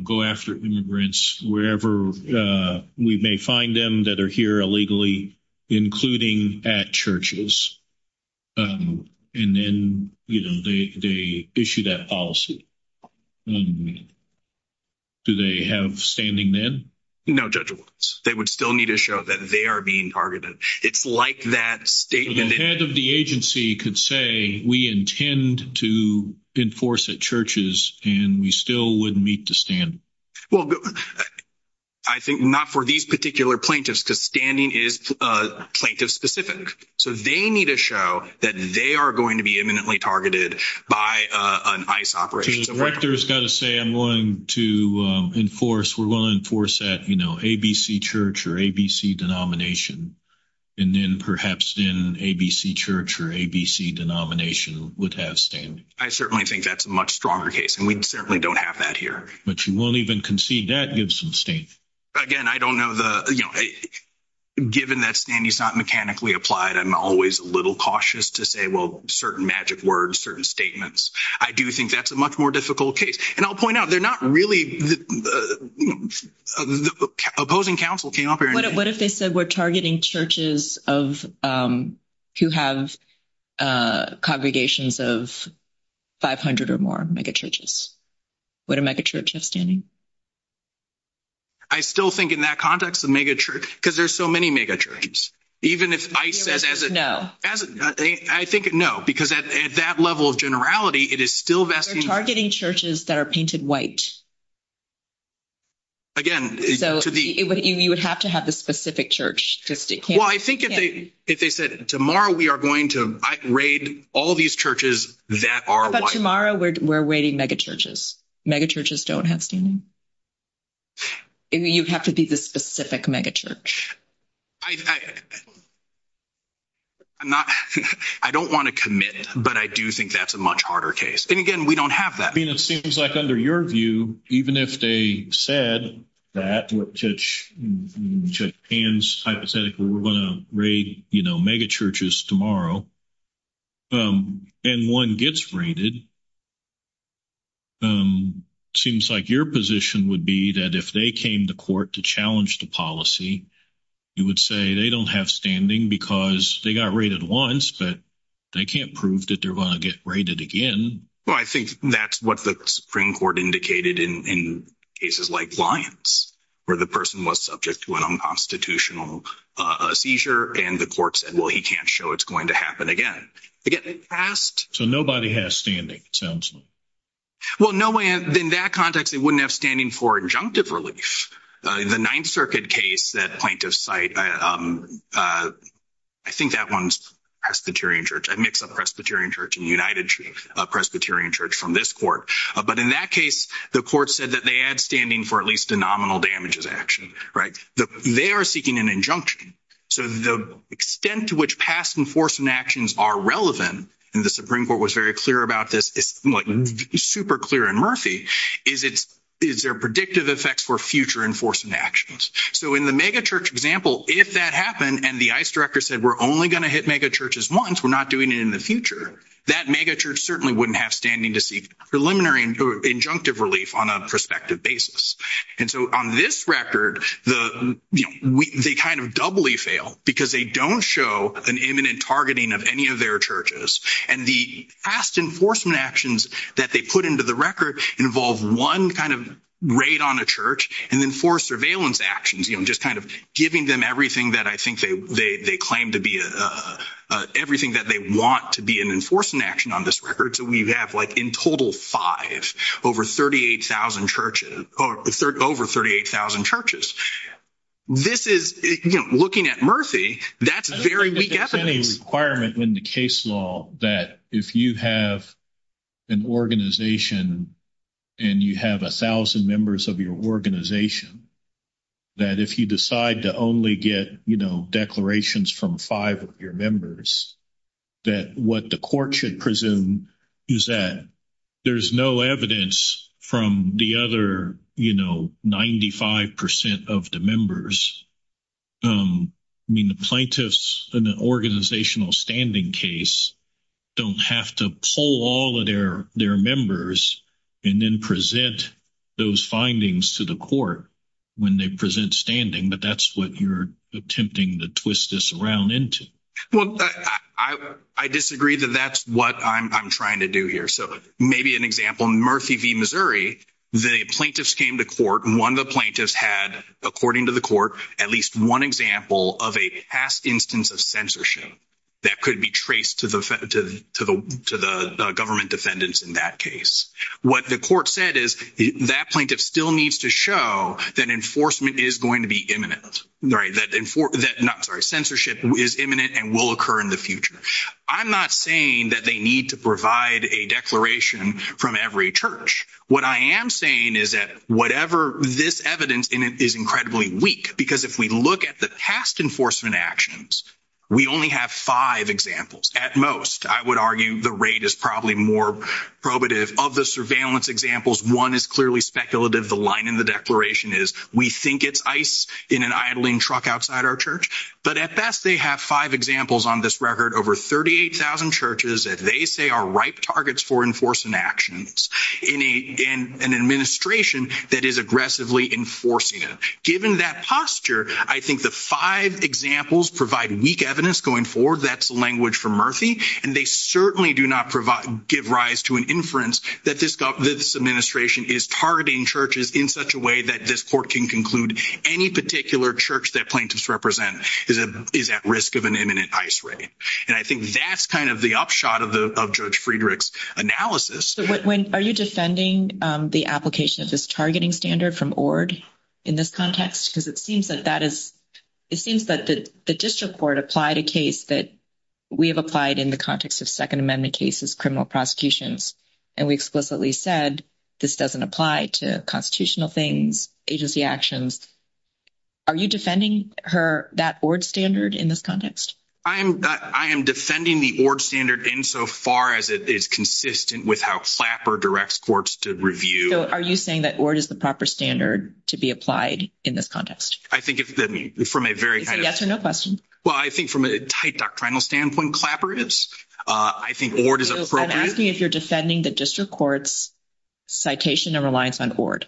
go after immigrants wherever we may find them that are here illegally, including at churches. And then, you know, they issue that policy. Do they have standing then? No, Judge Williams. They would still need to show that they are being targeted. It's like that statement- The head of the agency could say, we intend to enforce at churches, and we still wouldn't meet the standard. Well, I think not for these particular plaintiffs, because standing is plaintiff specific. So they need to show that they are going to be imminently targeted by an ICE operation. The director has got to say, I'm going to enforce, we're going to enforce that, you know, ABC church or ABC denomination. And then perhaps then ABC church or ABC denomination would have standing. I certainly think that's a much stronger case, and we certainly don't have that here. But you won't even concede that gives some standing. Again, I don't know the, you know, given that standing is not mechanically applied, I'm always a little cautious to say, well, certain magic words, certain statements. I do think that's a much more difficult case. And I'll point out, they're not really- Opposing counsel came up here- What if they said we're targeting churches of- who have congregations of 500 or more megachurches? Would a megachurch have standing? I still think in that context, the megachurch- because there's so many megachurches. Even if ICE says as a- I think, no, because at that level of generality, it is still vesting- We're targeting churches that are painted white. Again, to the- You would have to have the specific church. Well, I think if they said, tomorrow, we are going to raid all these churches that are white. But tomorrow, we're waiting megachurches. Megachurches don't have standing. You'd have to be the specific megachurch. I'm not- I don't want to commit. But I do think that's a much harder case. And again, we don't have that. I mean, it seems like under your view, even if they said that, Judge Pan's hypothetical, we're going to raid megachurches tomorrow, and one gets raided, seems like your position would be that if they came to court to challenge the policy, you would say they don't have standing because they got raided once, but they can't prove that they're going to get raided again. Well, I think that's what the Supreme Court indicated in cases like Lyons, where the person was subject to an unconstitutional seizure, and the court said, well, he can't show it's going to happen again. Again, it passed- So nobody has standing, it sounds like. Well, no way. In that context, they wouldn't have standing for injunctive relief. The Ninth Circuit case that plaintiffs cite, I think that one's Presbyterian Church. I mixed up Presbyterian Church and United Presbyterian Church from this court. But in that case, the court said that they had standing for at least a nominal damages action, right? They are seeking an injunction. So the extent to which past enforcement actions are relevant, and the Supreme Court was very clear about this, it's like super clear in Murphy, is their predictive effects for future enforcement actions. So in the megachurch example, if that happened, and the ICE director said, we're only going to hit megachurches once, we're not doing it in the future, that megachurch certainly wouldn't have standing to seek preliminary injunctive relief on a prospective basis. And so on this record, they kind of doubly fail because they don't show an imminent targeting of any of their churches. And the past enforcement actions that they put into the record involve one kind of raid on a church, and then four surveillance actions, just kind of giving them everything that I think they claim to be, everything that they want to be an enforcement action on this record. So we have like in total five, over 38,000 churches. This is, looking at Murphy, that's very weak evidence. Requirement in the case law that if you have an organization, and you have 1000 members of your organization, that if you decide to only get, you know, declarations from five of your members, that what the court should presume is that there's no evidence from the other, you know, 95% of the members. I mean, the plaintiffs in the organizational standing case don't have to pull all of their members and then present those findings to the court when they present standing, but that's what you're attempting to twist this around into. Well, I disagree that that's what I'm trying to do here. So maybe an example, in Murphy v. Missouri, the plaintiffs came to court and one of the plaintiffs had, according to the court, at least one example of a past instance of censorship that could be traced to the government defendants in that case. What the court said is that plaintiff still needs to show that enforcement is going to be imminent, right? That, I'm sorry, censorship is imminent and will occur in the future. I'm not saying that they need to provide a declaration from every church. What I am saying is that whatever this evidence in it is incredibly weak, because if we look at the past enforcement actions, we only have five examples at most. I would argue the rate is probably more probative of the surveillance examples. One is clearly speculative. The line in the declaration is, we think it's ice in an idling truck outside our church, but at best they have five examples on this record, over 38,000 churches that they say are ripe targets for enforcement actions in an administration that is aggressively enforcing it. Given that posture, I think the five examples provide weak evidence going forward. That's language from Murphy, and they certainly do not give rise to an inference that this administration is targeting churches in such a way that this court can conclude any particular church that plaintiffs represent is at risk of an imminent ice ray. And I think that's kind of the upshot of Judge Friedrich's analysis. Are you defending the application of this targeting standard from ORD in this context? Because it seems that the district court applied a case that we have applied in the context of Second Amendment cases, criminal prosecutions, and we explicitly said this doesn't apply to constitutional things, agency actions. Are you defending that ORD standard in this context? I am defending the ORD standard insofar as it is consistent with how Clapper directs courts to review. So are you saying that ORD is the proper standard to be applied in this context? I think from a very kind of... It's a yes or no question. Well, I think from a tight doctrinal standpoint, Clapper is. I think ORD is appropriate. I'm asking if you're defending the district court's citation and reliance on ORD.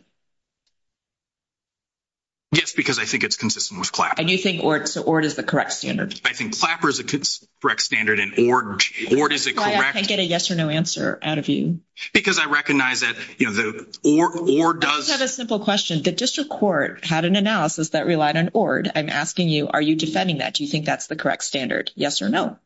Yes, because I think it's consistent with Clapper. And you think ORD is the correct standard? I think Clapper is a correct standard and ORD is a correct... I can't get a yes or no answer out of you. Because I recognize that ORD does... I just have a simple question. The district court had an analysis that relied on ORD. I'm asking you, are you defending that? Do you think that's the correct standard, yes or no?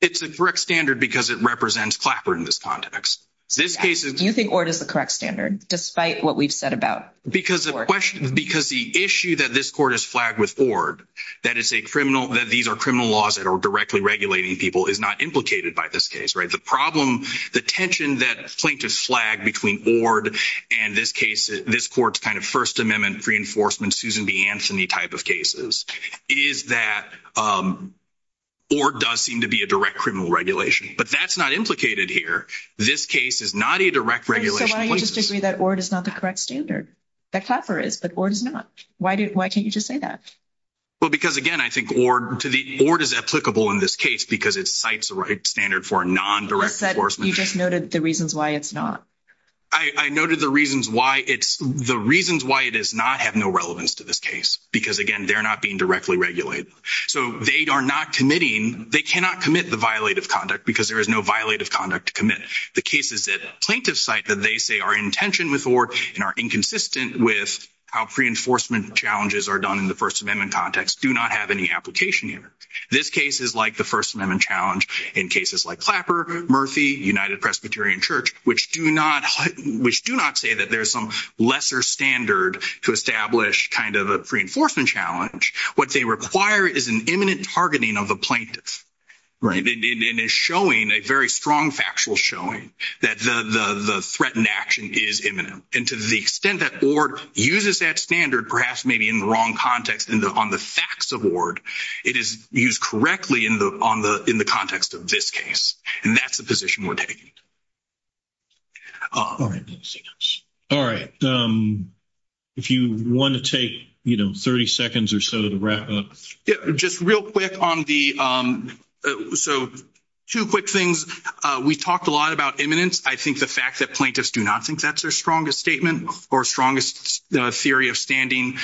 It's a correct standard because it represents Clapper in this context. Do you think ORD is the correct standard, despite what we've said about ORD? Because the issue that this court has flagged with ORD, that these are criminal laws that are directly regulating people, is not implicated by this case, right? The problem, the tension that plaintiffs flag between ORD and this case, this court's kind of First Amendment reinforcement, Susan B. Anthony type of cases, is that ORD does seem to be a direct criminal regulation. But that's not implicated here. This case is not a direct regulation. So why don't you just agree that ORD is not the correct standard? That Clapper is, but ORD is not. Why can't you just say that? Because, again, I think ORD is applicable in this case because it cites the right standard for a non-direct enforcement. You just noted the reasons why it's not. I noted the reasons why it's, the reasons why it does not have no relevance to this case. Because, again, they're not being directly regulated. So they are not committing, they cannot commit the violative conduct because there is no violative conduct to commit. The cases that plaintiffs cite that they say are in tension with ORD and are inconsistent with how pre-enforcement challenges are done in the First Amendment context, do not have any application here. This case is like the First Amendment challenge in cases like Clapper, Murphy, United Presbyterian Church, which do not, which do not say that there's some lesser standard to establish kind of a pre-enforcement challenge. What they require is an imminent targeting of the plaintiffs. Right. And is showing a very strong factual showing that the threatened action is imminent. And to the extent that ORD uses that standard, perhaps maybe in the wrong context on the facts of ORD, it is used correctly in the context of this case. And that's the position we're taking. All right. All right. If you want to take, you know, 30 seconds or so to wrap up. Yeah, just real quick on the, so two quick things. We talked a lot about imminence. I think the fact that plaintiffs do not think that's their strongest statement or strongest theory of standing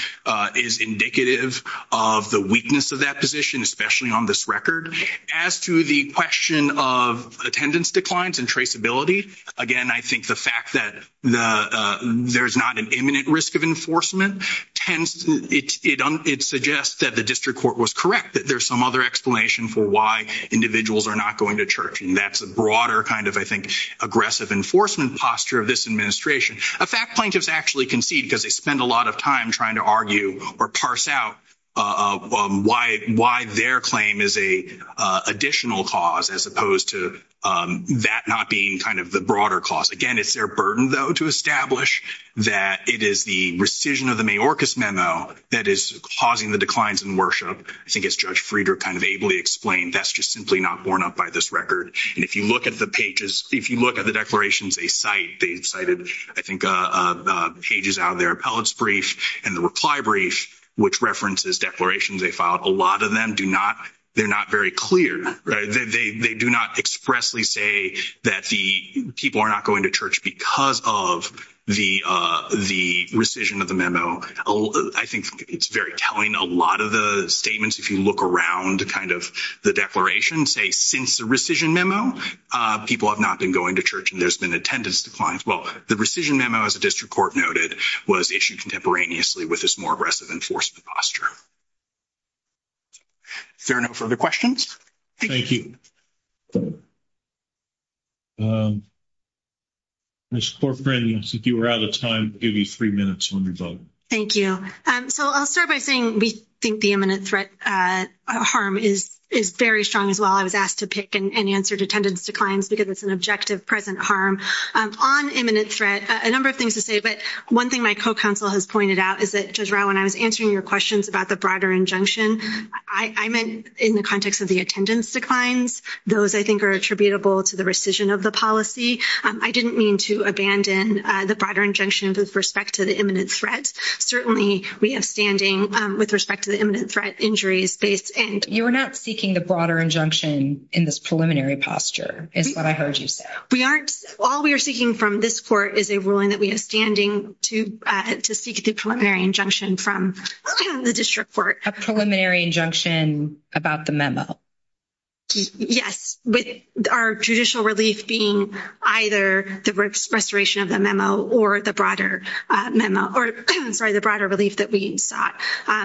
is indicative of the weakness of that position, especially on this record. As to the question of attendance declines and traceability, again, I think the fact that there's not an imminent risk of enforcement tends, it suggests that the district court was correct, that there's some other explanation for why individuals are not going to church. And that's a broader kind of, I think, aggressive enforcement posture of this administration. In fact, plaintiffs actually concede because they spend a lot of time trying to argue or parse out why their claim is a additional cause, as opposed to that not being kind of the broader cause. Again, it's their burden, though, to establish that it is the rescission of the Mayorkas memo that is causing the declines in worship. I think as Judge Friedrich kind of ably explained, that's just simply not borne out by this record. And if you look at the pages, if you look at the declarations, they've cited, I think, pages out of their appellate's brief and the reply brief, which references declarations they filed. A lot of them do not, they're not very clear, right? They do not expressly say that the people are not going to church because of the rescission of the memo. I think it's very telling. A lot of the statements, if you look around kind of the declaration, say since the rescission memo, people have not been going to church and there's been attendance declines. Well, the rescission memo, as the district court noted, was issued contemporaneously with this more aggressive enforcement posture. Fair enough. Further questions? Thank you. Ms. Corcoran, I think you were out of time. I'll give you three minutes on your vote. Thank you. So I'll start by saying we think the imminent threat harm is very strong as well. I was asked to pick and answer attendance declines because it's an objective present harm. On imminent threat, a number of things to say, but one thing my co-counsel has pointed out is that, Judge Rao, when I was answering your questions about the broader injunction, I meant in the context of the attendance declines. Those, I think, are attributable to the rescission of the policy. I didn't mean to abandon the broader injunction with respect to the imminent threat. Certainly, we have standing with respect to the imminent threat injuries. You are not seeking the broader injunction in this preliminary posture, is what I heard you say. We aren't. All we are seeking from this court is a ruling that we have standing to seek the preliminary injunction from the district court. A preliminary injunction about the memo. Yes, with our judicial relief being either the restoration of the memo or the broader memo or, I'm sorry, the broader relief that we sought.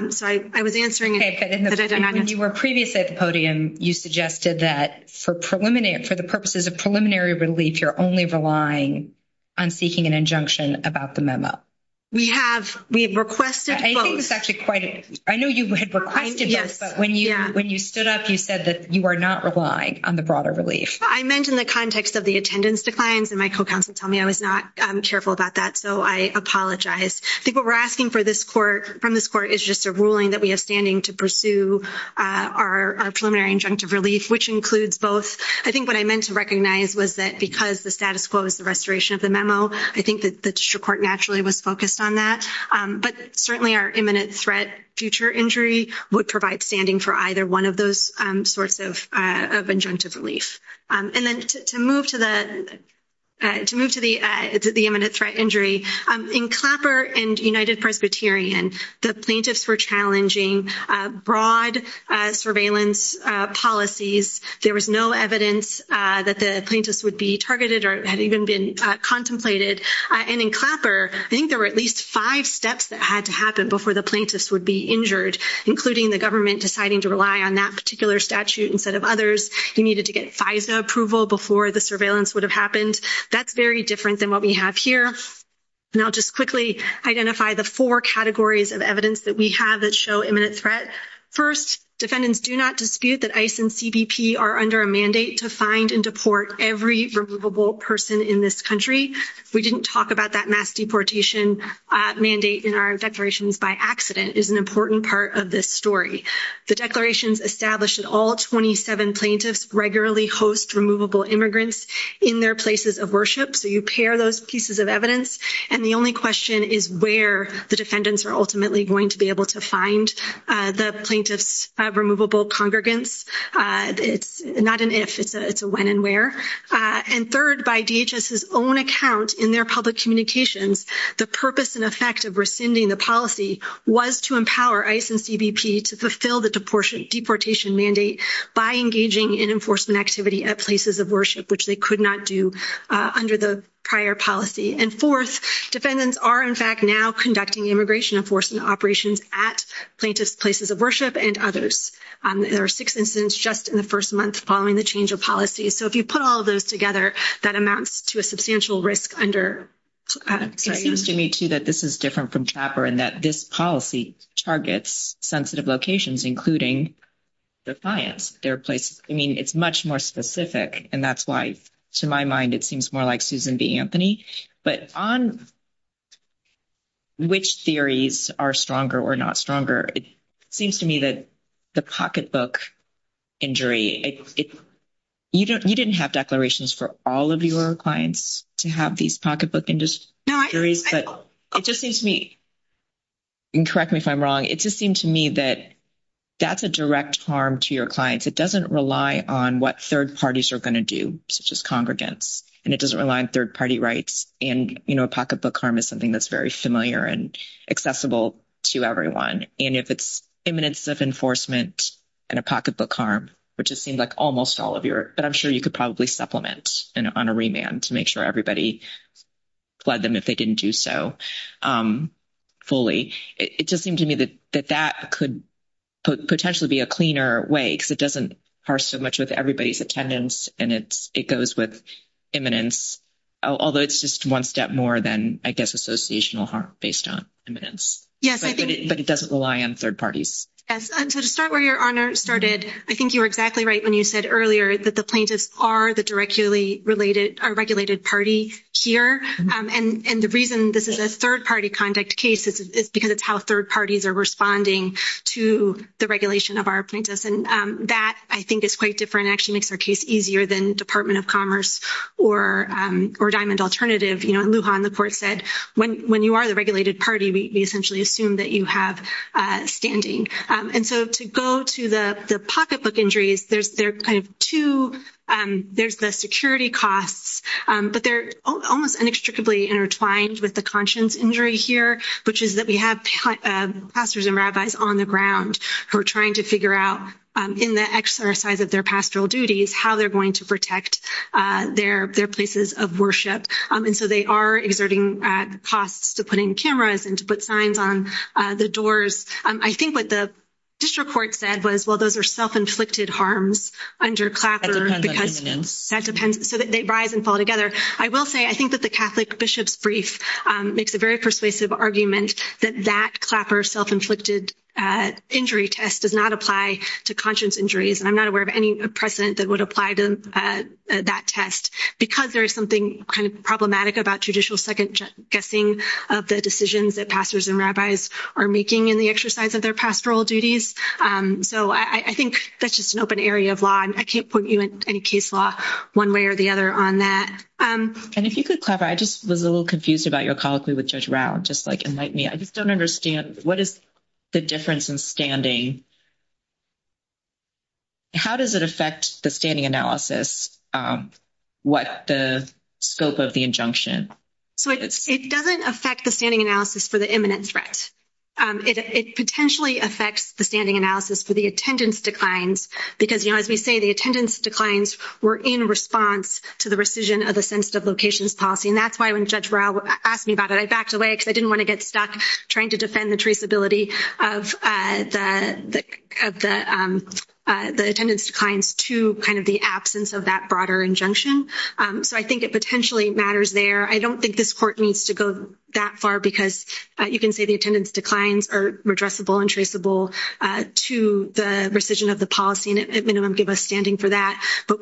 So I was answering. Okay, but when you were previously at the podium, you suggested that for the purposes of preliminary relief, you're only relying on seeking an injunction about the memo. We have. We have requested both. I think it's actually quite. I know you had requested both, but when you stood up, you said that you are not relying on the broader relief. I meant in the context of the attendance declines, and my co-counsel told me I was not careful about that, so I apologize. I think what we're asking from this court is just a ruling that we have standing to pursue our preliminary injunctive relief, which includes both. I think what I meant to recognize was that because the status quo is the restoration of the memo, I think that the district court naturally was focused on that, but certainly our imminent threat future injury would provide standing for either one of those sorts of injunctive relief. And then to move to the imminent threat injury, in Clapper and United Presbyterian, the plaintiffs were challenging broad surveillance policies. There was no evidence that the plaintiffs would be targeted or had even been contemplated. And in Clapper, I think there were at least five steps that had to happen before the plaintiffs would be injured, including the government deciding to rely on that particular statute instead of others. You needed to get FISA approval before the surveillance would have happened. That's very different than what we have here. And I'll just quickly identify the four categories of evidence that we have that show imminent threat. First, defendants do not dispute that ICE and CBP are under a mandate to find and deport every removable person in this country. We didn't talk about that mass deportation mandate in our declarations by accident, is an important part of this story. The declarations established that all 27 plaintiffs regularly host removable immigrants in their places of worship. So you pair those pieces of evidence. And the only question is where the defendants are ultimately going to be able to find the plaintiff's removable congregants. It's not an if, it's a when and where. And third, by DHS's own account in their public communications, the purpose and effect of rescinding the policy was to empower ICE and CBP to fulfill the deportation mandate by engaging in enforcement activity at places of worship, which they could not do under the prior policy. And fourth, defendants are, in fact, now conducting immigration enforcement operations at plaintiff's places of worship and others. There are six incidents just in the first month following the change of policy. So if you put all of those together, that amounts to a substantial risk under- It seems to me too that this is different from CHOPPER and that this policy targets sensitive locations, including the clients. There are places, I mean, it's much more specific. And that's why, to my mind, it seems more like Susan B. Anthony. But on which theories are stronger or not stronger, it seems to me that the pocketbook injury, you didn't have declarations for all of your clients to have these pocketbook injuries, but it just seems to me, and correct me if I'm wrong, it just seemed to me that that's a direct harm to your clients. It doesn't rely on what third parties are going to do, such as congregants, and it doesn't rely on third-party rights. And a pocketbook harm is something that's very familiar and accessible to everyone. And if it's imminence of enforcement and a pocketbook harm, which it seems like almost all of your, but I'm sure you could probably supplement on a remand to make sure everybody fled them if they didn't do so fully. It just seemed to me that that could potentially be a cleaner way because it doesn't harm so much with everybody's attendance and it goes with imminence, although it's just one step more than, I guess, associational harm based on imminence. But it doesn't rely on third parties. Yes. And to start where your honor started, I think you were exactly right when you said earlier that the plaintiffs are the directly regulated party here. And the reason this is a third-party conduct case is because it's how third parties are responding to the regulation of our plaintiffs. And that I think is quite different. It actually makes our case easier than Department of Commerce or Diamond Alternative. In Lujan, the court said, when you are the regulated party, we essentially assume that you have standing. And so to go to the pocketbook injuries, there's the security costs, but they're almost inextricably intertwined with the conscience injury here, which is that we have pastors and rabbis on the ground who are trying to figure out, in the exercise of their pastoral duties, how they're going to protect their places of worship. And so they are exerting costs to putting cameras and to put signs on the doors. I think what the district court said was, well, those are self-inflicted harms under Clapper. That depends on imminence. That depends. So they rise and fall together. I will say, I think that the Catholic Bishop's Brief makes a very persuasive argument that that Clapper self-inflicted injury test does not apply to conscience injuries. And I'm not aware of any precedent that would apply to that test because there is something kind of problematic about judicial second-guessing of the decisions that pastors and rabbis are making in the exercise of their pastoral duties. So I think that's just an open area of law. I can't point you in any case law one way or the other on that. And if you could, Clapper, I just was a little confused about your colloquy with Judge Rao, just like enlighten me. I just don't understand. What is the difference in standing? How does it affect the standing analysis? What the scope of the injunction? So it doesn't affect the standing analysis for the imminent threat. It potentially affects the standing analysis for the attendance declines. Because as we say, the attendance declines were in response to the rescission of the sensitive locations policy. And that's why when Judge Rao asked me about it, I backed away because I didn't want to get stuck trying to defend the traceability of the attendance declines to kind of the absence of that broader injunction. So I think it potentially matters there. I don't think this court needs to go that far because you can say the attendance declines are redressable and traceable to the rescission of the policy and at minimum give us standing for that. But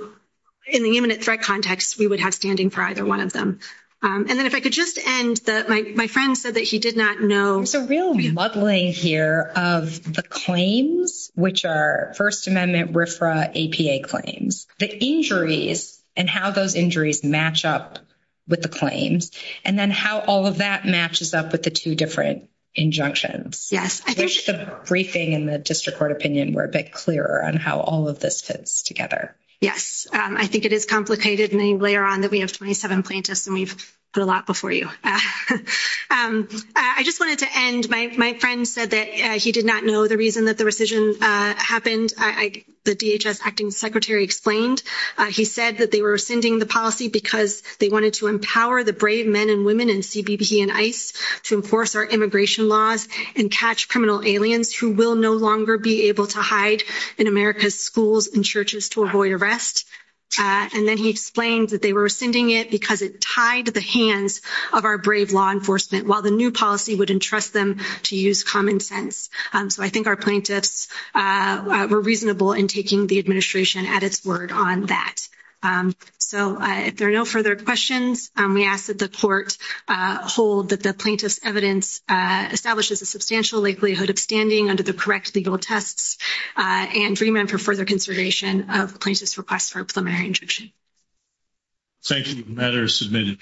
in the imminent threat context, we would have standing for either one of them. And then if I could just end that, my friend said that he did not know. There's a real muddling here of the claims, which are First Amendment RFRA APA claims, the injuries and how those injuries match up with the claims, and then how all of that matches up with the two different injunctions. Yes. I wish the briefing and the district court opinion were a bit clearer on how all of this fits together. Yes, I think it is complicated. And then later on that we have 27 plaintiffs and we've put a lot before you. I just wanted to end. My friend said that he did not know the reason that the rescission happened. The DHS acting secretary explained, he said that they were rescinding the policy because they wanted to empower the brave men and women in CBP and ICE to enforce our immigration laws and catch criminal aliens who will no longer be able to hide in America's schools and churches to avoid arrest. And then he explained that they were rescinding it because it tied the hands of our brave law enforcement while the new policy would entrust them to use common sense. So I think our plaintiffs were reasonable in taking the administration at its word on that. So if there are no further questions, we ask that the court hold that the plaintiff's evidence establishes a substantial likelihood of standing under the correct legal tests and remand for further conservation of plaintiff's request for a preliminary injunction. Thank you, the matter is submitted.